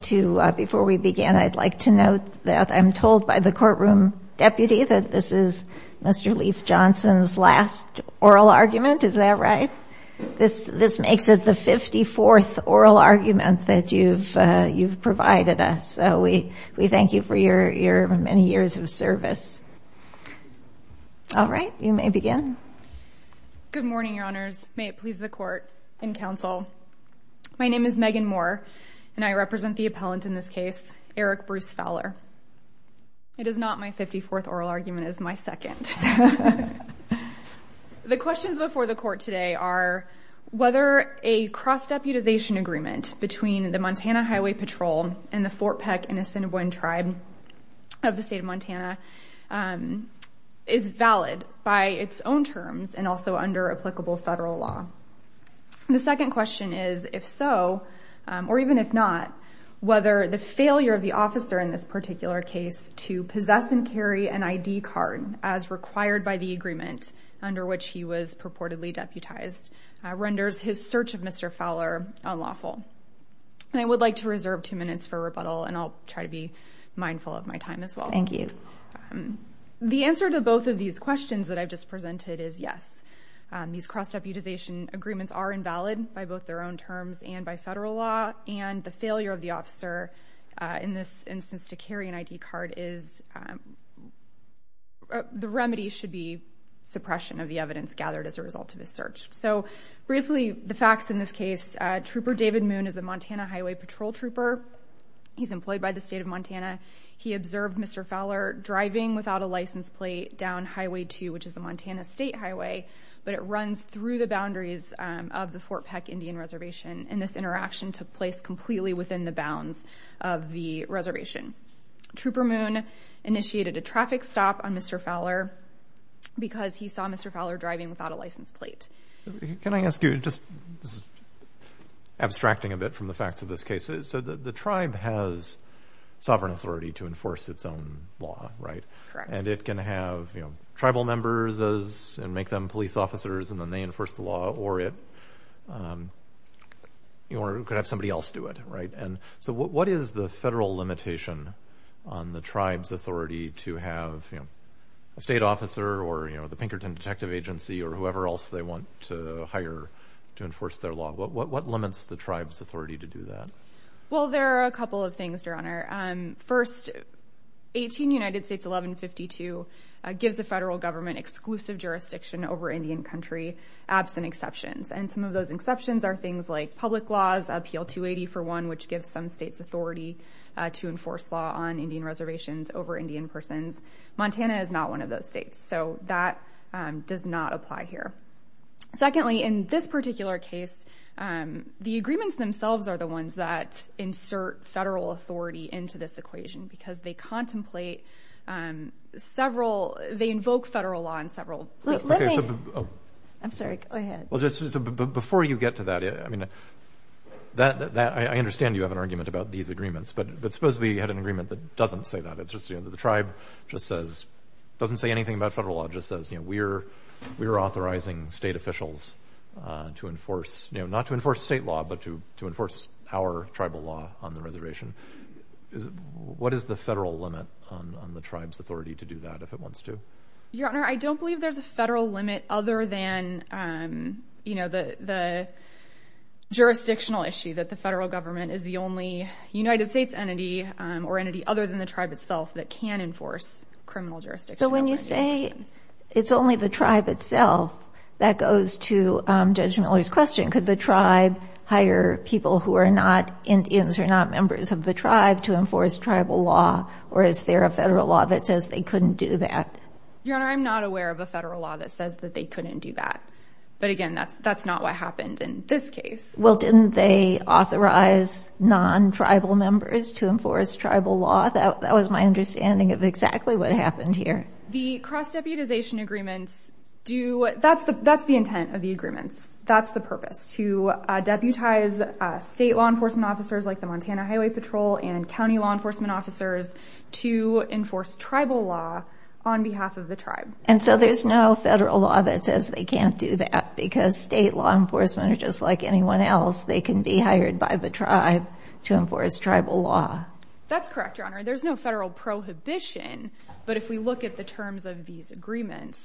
Before we begin, I'd like to note that I'm told by the courtroom deputy that this is Mr. Leif Johnson's last oral argument, is that right? This makes it the 54th oral argument that you've provided us, so we thank you for your many years of service. All right, you may begin. Good morning, Your Honors. May it please the Court and Counsel. My name is Megan Moore, and I represent the appellant in this case, Eric Bruce Fowler. It is not my 54th oral argument, it is my second. The questions before the Court today are whether a cross-deputization agreement between the Montana Highway Patrol and the Fort Peck and Assiniboine Tribe of the state of Montana is valid by its own terms and also under applicable federal law. The second question is if so, or even if not, whether the failure of the officer in this particular case to possess and carry an ID card as required by the agreement under which he was purportedly deputized renders his search of Mr. Fowler unlawful. I would like to reserve two minutes for rebuttal, and I'll try to be mindful of my time as well. Thank you. The answer to both of these questions that I've just presented is yes. These cross-deputization agreements are invalid by both their own terms and by federal law, and the failure of the officer in this instance to carry an ID card is... The remedy should be suppression of the evidence gathered as a result of his search. Briefly, the facts in this case, Trooper David Moon is a Montana Highway Patrol trooper. He's employed by the state of Montana. He observed Mr. Fowler driving without a license plate down Highway 2, which is the Montana State Highway, but it runs through the boundaries of the Fort Peck Indian Reservation, and this interaction took place completely within the bounds of the reservation. Trooper Moon initiated a traffic stop on Mr. Fowler because he saw Mr. Fowler driving without a license plate. Can I ask you, just abstracting a bit from the facts of this case, so the tribe has sovereign authority to enforce its own law, right? Correct. And it can have tribal members and make them police officers, and then they enforce the law, or it could have somebody else do it, right? And so what is the federal limitation on the tribe's authority to have a state officer or the Pinkerton Detective Agency or whoever else they want to hire to enforce their law? What limits the tribe's authority to do that? Well, there are a couple of things, Your Honor. First, 18 United States 1152 gives the federal government exclusive jurisdiction over Indian country, absent exceptions, and some of those exceptions are things like public laws, appeal 280 for one, which gives some states authority to enforce law on Indian reservations over Indian persons. Montana is not one of those states, so that does not apply here. Secondly, in this particular case, the agreements themselves are the ones that insert federal authority into this equation because they contemplate several, they invoke federal law in several places. I'm sorry. Go ahead. Well, just before you get to that, I mean, I understand you have an argument about these agreements, but suppose we had an agreement that doesn't say that. It's just, you know, the tribe just says, doesn't say anything about federal law, just says, you know, we're authorizing state officials to enforce, you know, not to enforce state law, but to enforce our tribal law on the reservation. What is the federal limit on the tribe's authority to do that if it wants to? Your Honor, I don't believe there's a federal limit other than, you know, the jurisdictional issue that the federal government is the only United States entity or entity other than the tribe itself that can enforce criminal jurisdiction. So when you say it's only the tribe itself, that goes to Judge Miller's question. Could the tribe hire people who are not Indians or not members of the tribe to enforce tribal law, or is there a federal law that says they couldn't do that? Your Honor, I'm not aware of a federal law that says that they couldn't do that. But again, that's not what happened in this case. Well, didn't they authorize non-tribal members to enforce tribal law? That was my understanding of exactly what happened here. The cross-deputization agreements do—that's the intent of the agreements. That's the purpose, to deputize state law enforcement officers like the Montana Highway Patrol and county law enforcement officers to enforce tribal law on behalf of the tribe. And so there's no federal law that says they can't do that because state law enforcement are just like anyone else. They can be hired by the tribe to enforce tribal law. That's correct, Your Honor. There's no federal prohibition. But if we look at the terms of these agreements,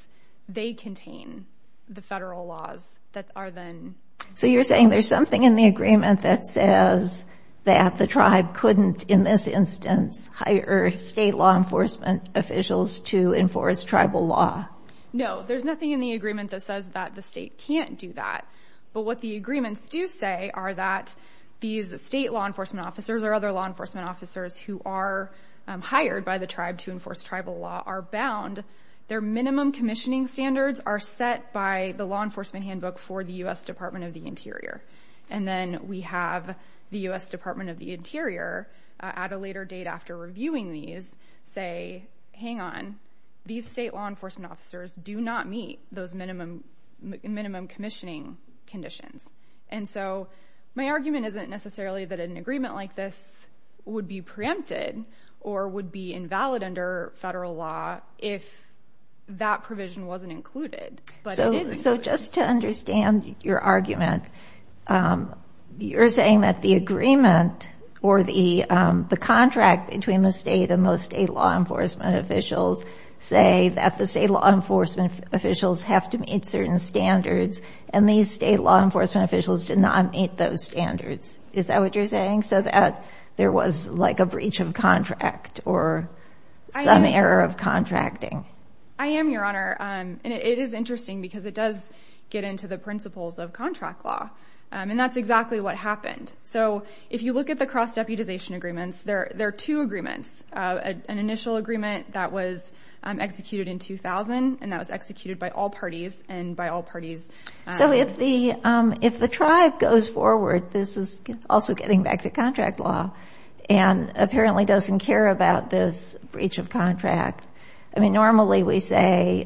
they contain the federal laws that are then— So you're saying there's something in the agreement that says that the tribe couldn't, in this instance, hire state law enforcement officials to enforce tribal law. No, there's nothing in the agreement that says that the state can't do that. But what the agreements do say are that these state law enforcement officers or other law enforcement officers who are hired by the tribe to enforce tribal law are bound. Their minimum commissioning standards are set by the law enforcement handbook for the U.S. Department of the Interior. And then we have the U.S. Department of the Interior, at a later date after reviewing these, say, hang on, these state law enforcement officers do not meet those minimum commissioning conditions. And so my argument isn't necessarily that an agreement like this would be preempted or would be invalid under federal law if that provision wasn't included. So just to understand your argument, you're saying that the agreement or the contract between the state and those state law enforcement officials say that the state law enforcement officials have to meet certain standards and these state law enforcement officials did not meet those standards. Is that what you're saying? So that there was, like, a breach of contract or some error of contracting? I am, Your Honor. And it is interesting because it does get into the principles of contract law. And that's exactly what happened. So if you look at the cross-deputization agreements, there are two agreements, an initial agreement that was executed in 2000 and that was executed by all parties and by all parties. So if the tribe goes forward, this is also getting back to contract law and apparently doesn't care about this breach of contract. I mean, normally we say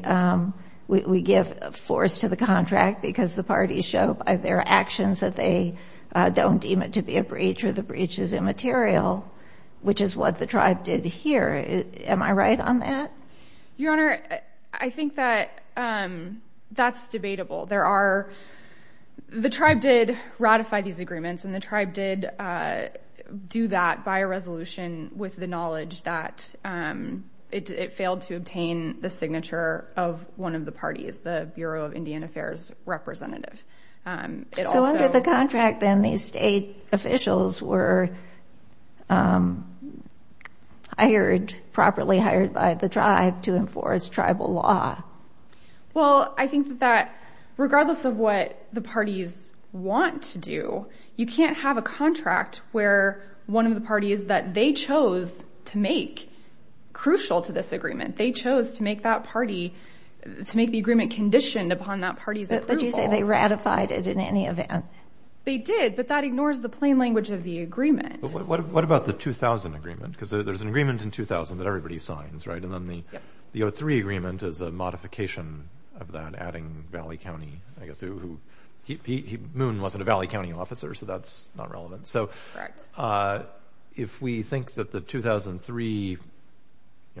we give force to the contract because the parties show by their actions that they don't deem it to be a breach or the breach is immaterial, which is what the tribe did here. Am I right on that? Your Honor, I think that that's debatable. The tribe did ratify these agreements and the tribe did do that by a resolution with the knowledge that it failed to obtain the signature of one of the parties, the Bureau of Indian Affairs representative. So under the contract, then, these state officials were hired, properly hired by the tribe to enforce tribal law. Well, I think that regardless of what the parties want to do, you can't have a contract where one of the parties that they chose to make crucial to this agreement, they chose to make that party, to make the agreement conditioned upon that party's approval. Did you say they ratified it in any event? They did, but that ignores the plain language of the agreement. What about the 2000 agreement? Because there's an agreement in 2000 that everybody signs, right? And then the 2003 agreement is a modification of that, adding Valley County. I guess Moon wasn't a Valley County officer, so that's not relevant. Correct. So if we think that the 2003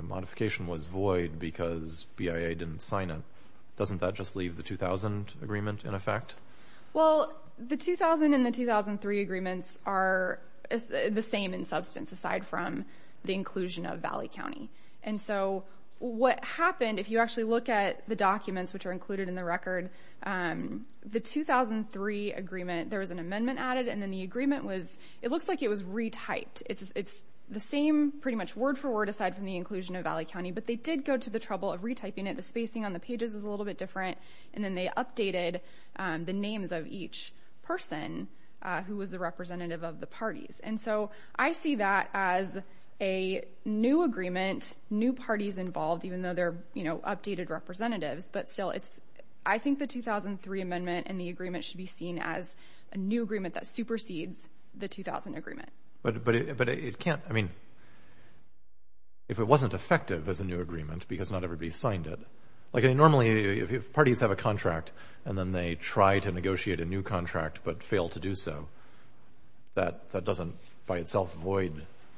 modification was void because BIA didn't sign it, doesn't that just leave the 2000 agreement in effect? Well, the 2000 and the 2003 agreements are the same in substance aside from the inclusion of Valley County. And so what happened, if you actually look at the documents which are included in the record, the 2003 agreement, there was an amendment added, and then the agreement was, it looks like it was retyped. It's the same pretty much word for word aside from the inclusion of Valley County, but they did go to the trouble of retyping it. The spacing on the pages is a little bit different, and then they updated the names of each person who was the representative of the parties. And so I see that as a new agreement, new parties involved, even though they're updated representatives. But still, I think the 2003 amendment and the agreement should be seen as a new agreement that supersedes the 2000 agreement. But it can't, I mean, if it wasn't effective as a new agreement because not everybody signed it, like normally if parties have a contract and then they try to negotiate a new contract but fail to do so, that doesn't by itself void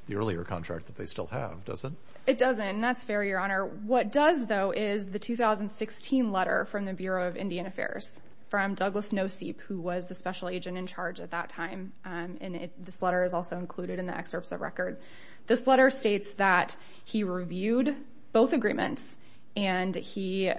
the earlier contract that they still have, does it? It doesn't, and that's fair, Your Honor. What does, though, is the 2016 letter from the Bureau of Indian Affairs from Douglas Noseep, who was the special agent in charge at that time, and this letter is also included in the excerpts of record. This letter states that he reviewed both agreements, and he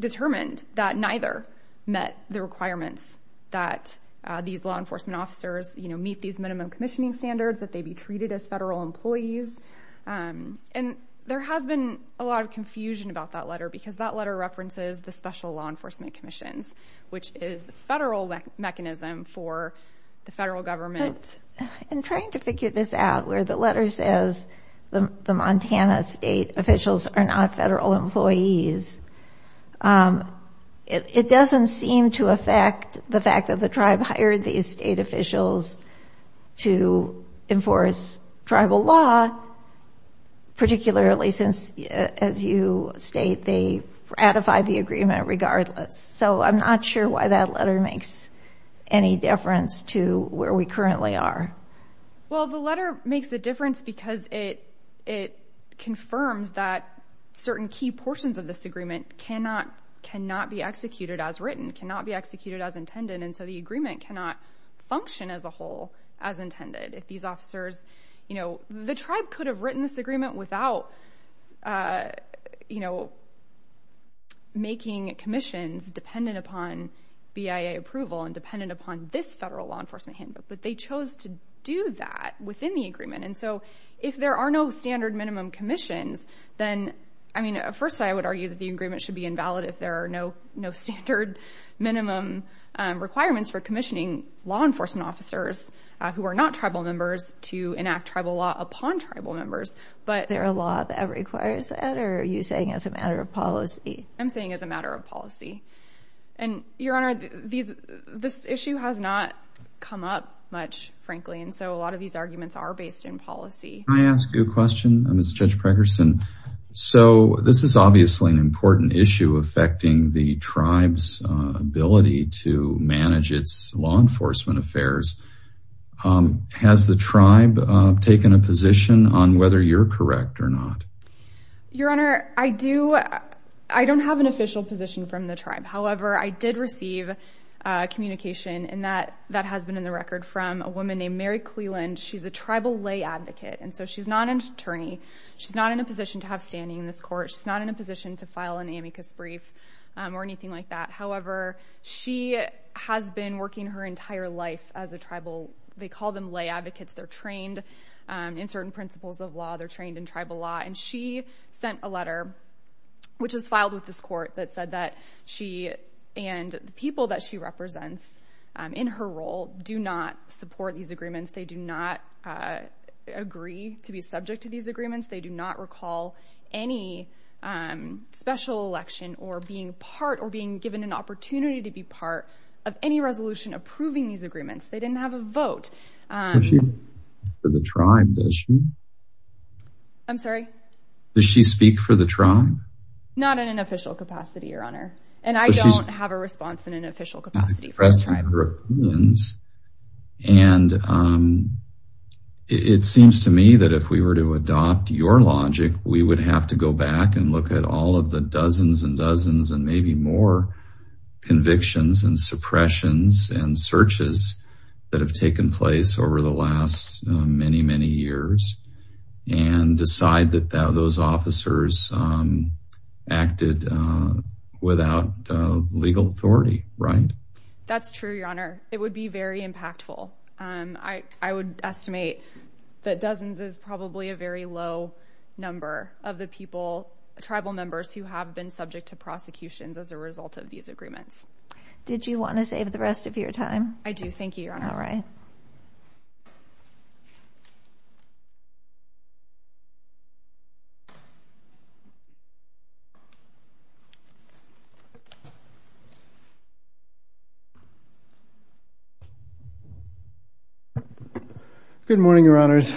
determined that neither met the requirements that these law enforcement officers meet these minimum commissioning standards, that they be treated as federal employees. And there has been a lot of confusion about that letter because that letter references the special law enforcement commissions, which is the federal mechanism for the federal government. In trying to figure this out, where the letter says the Montana state officials are not federal employees, it doesn't seem to affect the fact that the tribe hired these state officials to enforce tribal law, particularly since, as you state, they ratified the agreement regardless. So I'm not sure why that letter makes any difference to where we currently are. Well, the letter makes a difference because it confirms that certain key portions of this agreement cannot be executed as written, cannot be executed as intended, and so the agreement cannot function as a whole as intended. The tribe could have written this agreement without making commissions dependent upon BIA approval and dependent upon this federal law enforcement handbook, but they chose to do that within the agreement. And so if there are no standard minimum commissions, then, I mean, at first I would argue that the agreement should be invalid if there are no standard minimum requirements for commissioning law enforcement officers who are not tribal members to enact tribal law upon tribal members. Is there a law that requires that, or are you saying it's a matter of policy? I'm saying it's a matter of policy. And, Your Honor, this issue has not come up much, frankly, and so a lot of these arguments are based in policy. Can I ask you a question, Ms. Judge Preckerson? So this is obviously an important issue affecting the tribe's ability to manage its law enforcement affairs. Has the tribe taken a position on whether you're correct or not? Your Honor, I don't have an official position from the tribe. However, I did receive communication, and that has been in the record, from a woman named Mary Cleland. She's a tribal lay advocate, and so she's not an attorney. She's not in a position to have standing in this court. She's not in a position to file an amicus brief or anything like that. However, she has been working her entire life as a tribal. They call them lay advocates. They're trained in certain principles of law. They're trained in tribal law, and she sent a letter, which was filed with this court, that said that she and the people that she represents in her role do not support these agreements. They do not agree to be subject to these agreements. They do not recall any special election or being part or being given an opportunity to be part of any resolution approving these agreements. They didn't have a vote. Does she speak for the tribe, does she? I'm sorry? Does she speak for the tribe? Not in an official capacity, Your Honor. And I don't have a response in an official capacity from the tribe. And it seems to me that if we were to adopt your logic, we would have to go back and look at all of the dozens and dozens and maybe more convictions and suppressions and searches that have taken place over the last many, many years and decide that those officers acted without legal authority, right? That's true, Your Honor. It would be very impactful. I would estimate that dozens is probably a very low number of the people, tribal members who have been subject to prosecutions as a result of these agreements. Did you want to save the rest of your time? Thank you, Your Honor. All right. Good morning, Your Honors.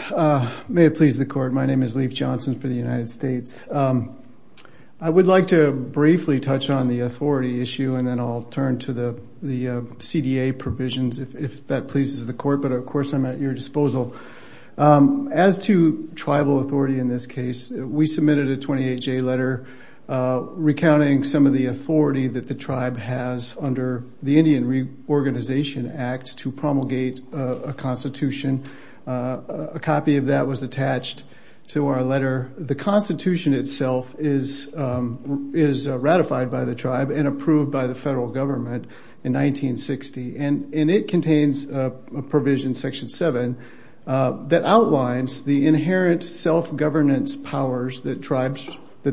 May it please the Court. My name is Leif Johnson for the United States. I would like to briefly touch on the authority issue, and then I'll turn to the CDA provisions if that pleases the Court. But, of course, I'm at your disposal. As to tribal authority in this case, we submitted a 28-J letter recounting some of the authority that the tribe has under the Indian Reorganization Act to promulgate a constitution. A copy of that was attached to our letter. The constitution itself is ratified by the tribe and approved by the federal government in 1960, and it contains a provision, Section 7, that outlines the inherent self-governance powers that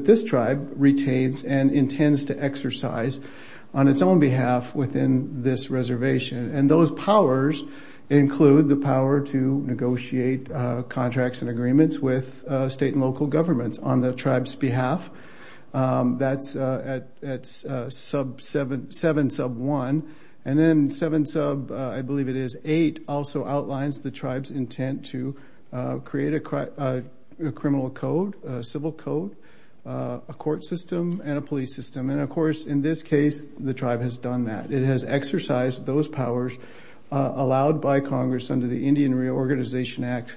this tribe retains and intends to exercise on its own behalf within this reservation. And those powers include the power to negotiate contracts and agreements with state and local governments on the tribe's behalf. That's at 7 sub 1. And then 7 sub, I believe it is, 8, also outlines the tribe's intent to create a criminal code, a civil code, a court system, and a police system. And, of course, in this case, the tribe has done that. It has exercised those powers, allowed by Congress under the Indian Reorganization Act,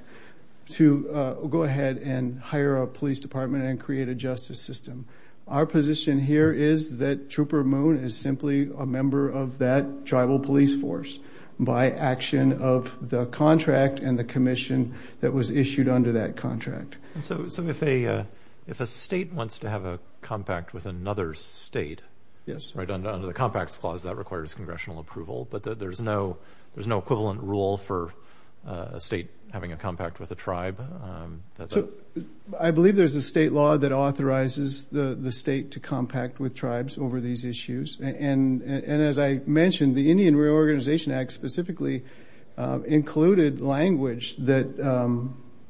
to go ahead and hire a police department and create a justice system. Our position here is that Trooper Moon is simply a member of that tribal police force by action of the contract and the commission that was issued under that contract. And so if a state wants to have a compact with another state, right, under the Compacts Clause, that requires congressional approval, but there's no equivalent rule for a state having a compact with a tribe? I believe there's a state law that authorizes the state to compact with tribes over these issues. And as I mentioned, the Indian Reorganization Act specifically included language that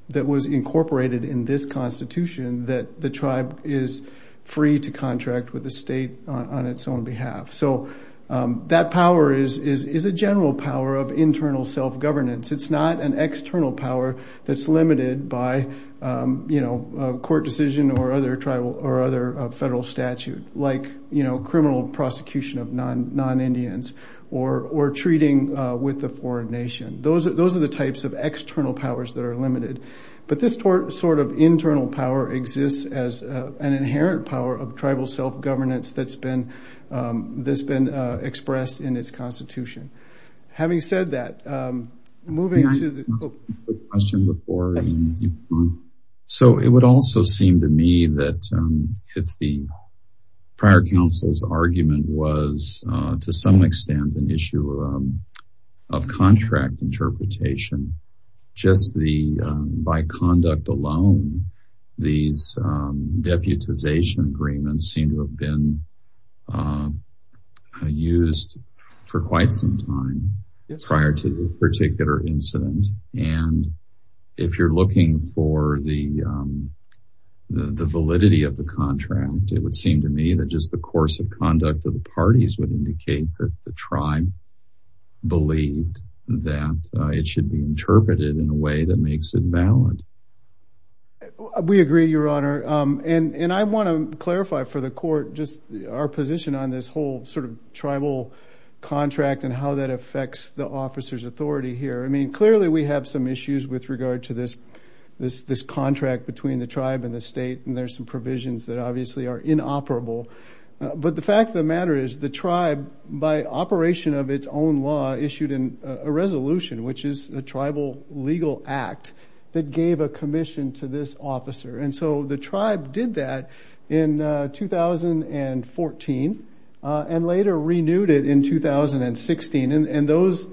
was incorporated in this Constitution that the tribe is free to contract with the state on its own behalf. So that power is a general power of internal self-governance. It's not an external power that's limited by court decision or other federal statute, like criminal prosecution of non-Indians or treating with a foreign nation. Those are the types of external powers that are limited. But this sort of internal power exists as an inherent power of tribal self-governance that's been expressed in its Constitution. Okay. Having said that, moving to the... May I ask a quick question before? Yes. So it would also seem to me that if the prior counsel's argument was, to some extent, an issue of contract interpretation, just by conduct alone, these deputization agreements seem to have been used for quite some time prior to a particular incident. And if you're looking for the validity of the contract, it would seem to me that just the course of conduct of the parties would indicate that the tribe believed that it should be interpreted in a way that makes it valid. We agree, Your Honor. And I want to clarify for the court just our position on this whole sort of tribal contract and how that affects the officer's authority here. I mean, clearly we have some issues with regard to this contract between the tribe and the state, and there's some provisions that obviously are inoperable. But the fact of the matter is the tribe, by operation of its own law, issued a resolution, which is a tribal legal act that gave a commission to this officer. And so the tribe did that in 2014 and later renewed it in 2016. And those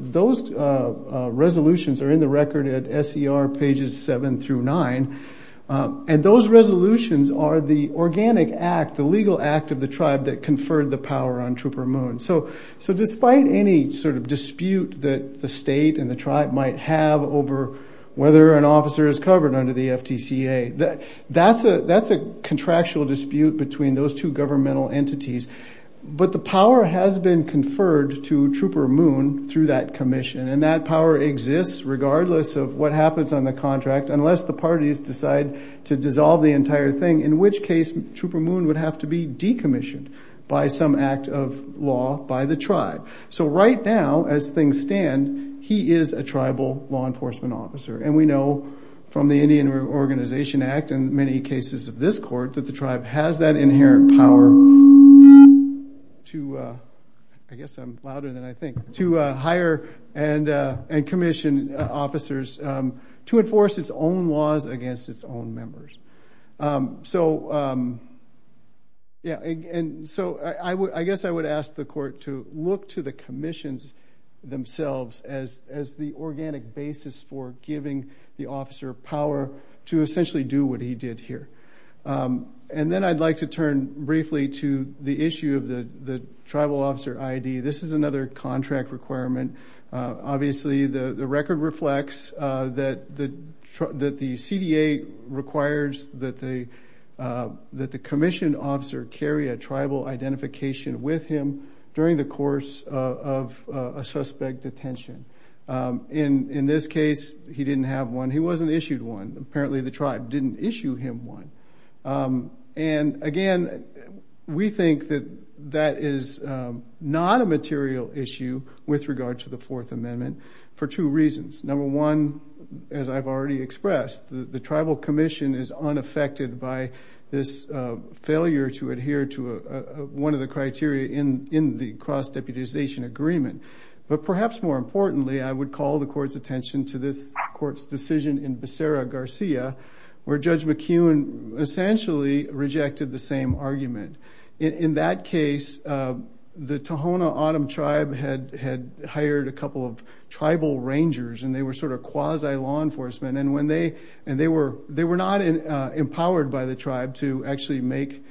resolutions are in the record at SER pages 7 through 9. And those resolutions are the organic act, the legal act of the tribe that conferred the power on Trooper Moon. So despite any sort of dispute that the state and the tribe might have over whether an officer is covered under the FTCA, that's a contractual dispute between those two governmental entities. But the power has been conferred to Trooper Moon through that commission, and that power exists regardless of what happens on the contract unless the parties decide to dissolve the entire thing, in which case Trooper Moon would have to be decommissioned by some act of law by the tribe. So right now, as things stand, he is a tribal law enforcement officer. And we know from the Indian Organization Act and many cases of this court that the tribe has that inherent power to, I guess I'm louder than I think, to hire and commission officers to enforce its own laws against its own members. So I guess I would ask the court to look to the commissions themselves as the organic basis for giving the officer power to essentially do what he did here. And then I'd like to turn briefly to the issue of the tribal officer ID. This is another contract requirement. Obviously, the record reflects that the CDA requires that the commissioned officer carry a tribal identification with him during the course of a suspect detention. In this case, he didn't have one. He wasn't issued one. Apparently the tribe didn't issue him one. And again, we think that that is not a material issue with regard to the Fourth Amendment for two reasons. Number one, as I've already expressed, the tribal commission is unaffected by this failure to adhere to one of the criteria in the cross-deputization agreement. But perhaps more importantly, I would call the court's attention to this court's decision in Becerra-Garcia where Judge McKeown essentially rejected the same argument. In that case, the Tohono O'odham tribe had hired a couple of tribal rangers and they were sort of quasi-law enforcement. And they were not empowered by the tribe to actually make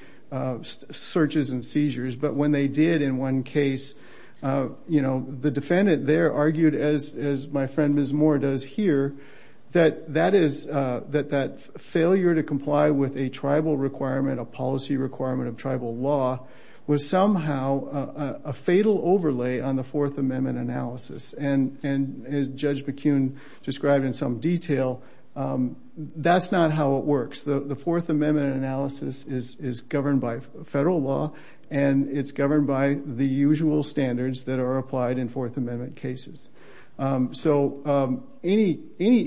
searches and seizures. But when they did in one case, the defendant there argued, as my friend Ms. Moore does here, that that failure to comply with a tribal requirement, a policy requirement of tribal law, was somehow a fatal overlay on the Fourth Amendment analysis. And as Judge McKeown described in some detail, that's not how it works. The Fourth Amendment analysis is governed by federal law and it's governed by the usual standards that are applied in Fourth Amendment cases. So any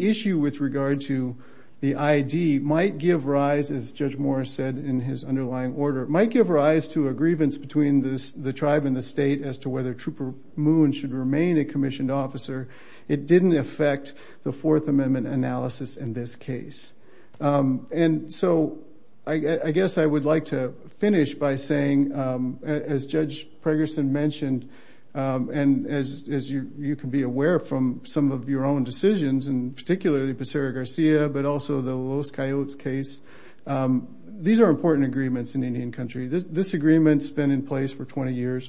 issue with regard to the ID might give rise, as Judge Moore said in his underlying order, might give rise to a grievance between the tribe and the state as to whether Trooper Moon should remain a commissioned officer. It didn't affect the Fourth Amendment analysis in this case. And so I guess I would like to finish by saying, as Judge Pregerson mentioned, and as you can be aware from some of your own decisions, and particularly the Becerra-Garcia but also the Los Coyotes case, these are important agreements in Indian country. This agreement's been in place for 20 years.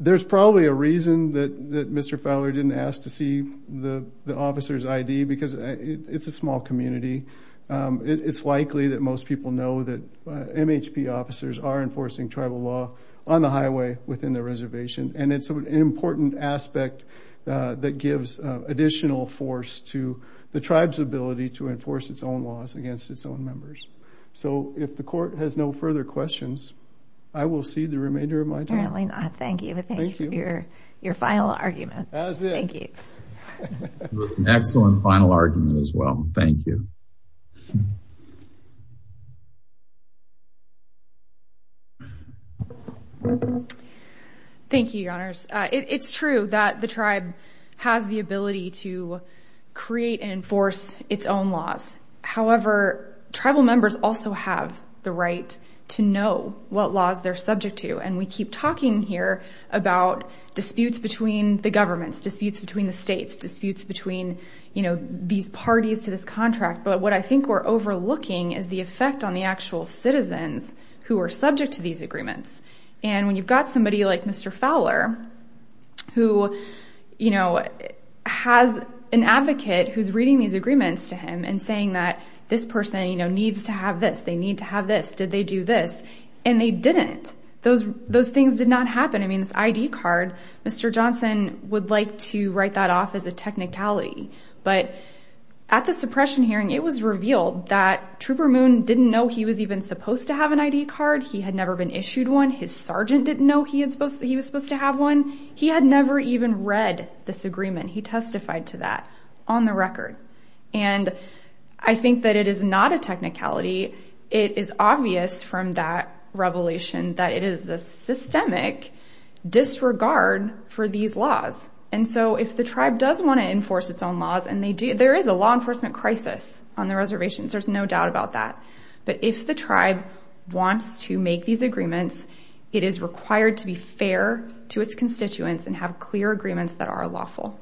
There's probably a reason that Mr. Fowler didn't ask to see the officer's ID because it's a small community. It's likely that most people know that MHP officers are enforcing tribal law on the highway within their reservation, and it's an important aspect that gives additional force to the tribe's ability to enforce its own laws against its own members. So if the court has no further questions, I will cede the remainder of my time. Apparently not. Thank you. Thank you. But thank you for your final argument. As is. Thank you. It was an excellent final argument as well. Thank you. Thank you, Your Honors. It's true that the tribe has the ability to create and enforce its own laws. However, tribal members also have the right to know what laws they're subject to, and we keep talking here about disputes between the governments, disputes between the states, disputes between these parties to this contract. But what I think we're overlooking is the effect on the actual citizens who are subject to these agreements. And when you've got somebody like Mr. Fowler, who has an advocate who's reading these agreements to him and saying that this person needs to have this, they need to have this, did they do this, and they didn't. Those things did not happen. This ID card, Mr. Johnson would like to write that off as a technicality. But at the suppression hearing, it was revealed that Trooper Moon didn't know he was even supposed to have an ID card. He had never been issued one. His sergeant didn't know he was supposed to have one. He had never even read this agreement. He testified to that on the record. And I think that it is not a technicality. It is obvious from that revelation that it is a systemic disregard for these laws. And so if the tribe does want to enforce its own laws, and there is a law enforcement crisis on the reservation, there's no doubt about that. But if the tribe wants to make these agreements, it is required to be fair to its constituents and have clear agreements that are lawful.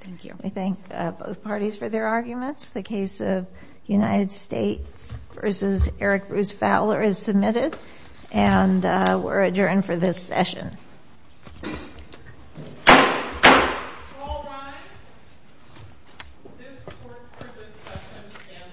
Thank you. I thank both parties for their arguments. The case of United States v. Eric Bruce Fowler is submitted, and we're adjourned for this session.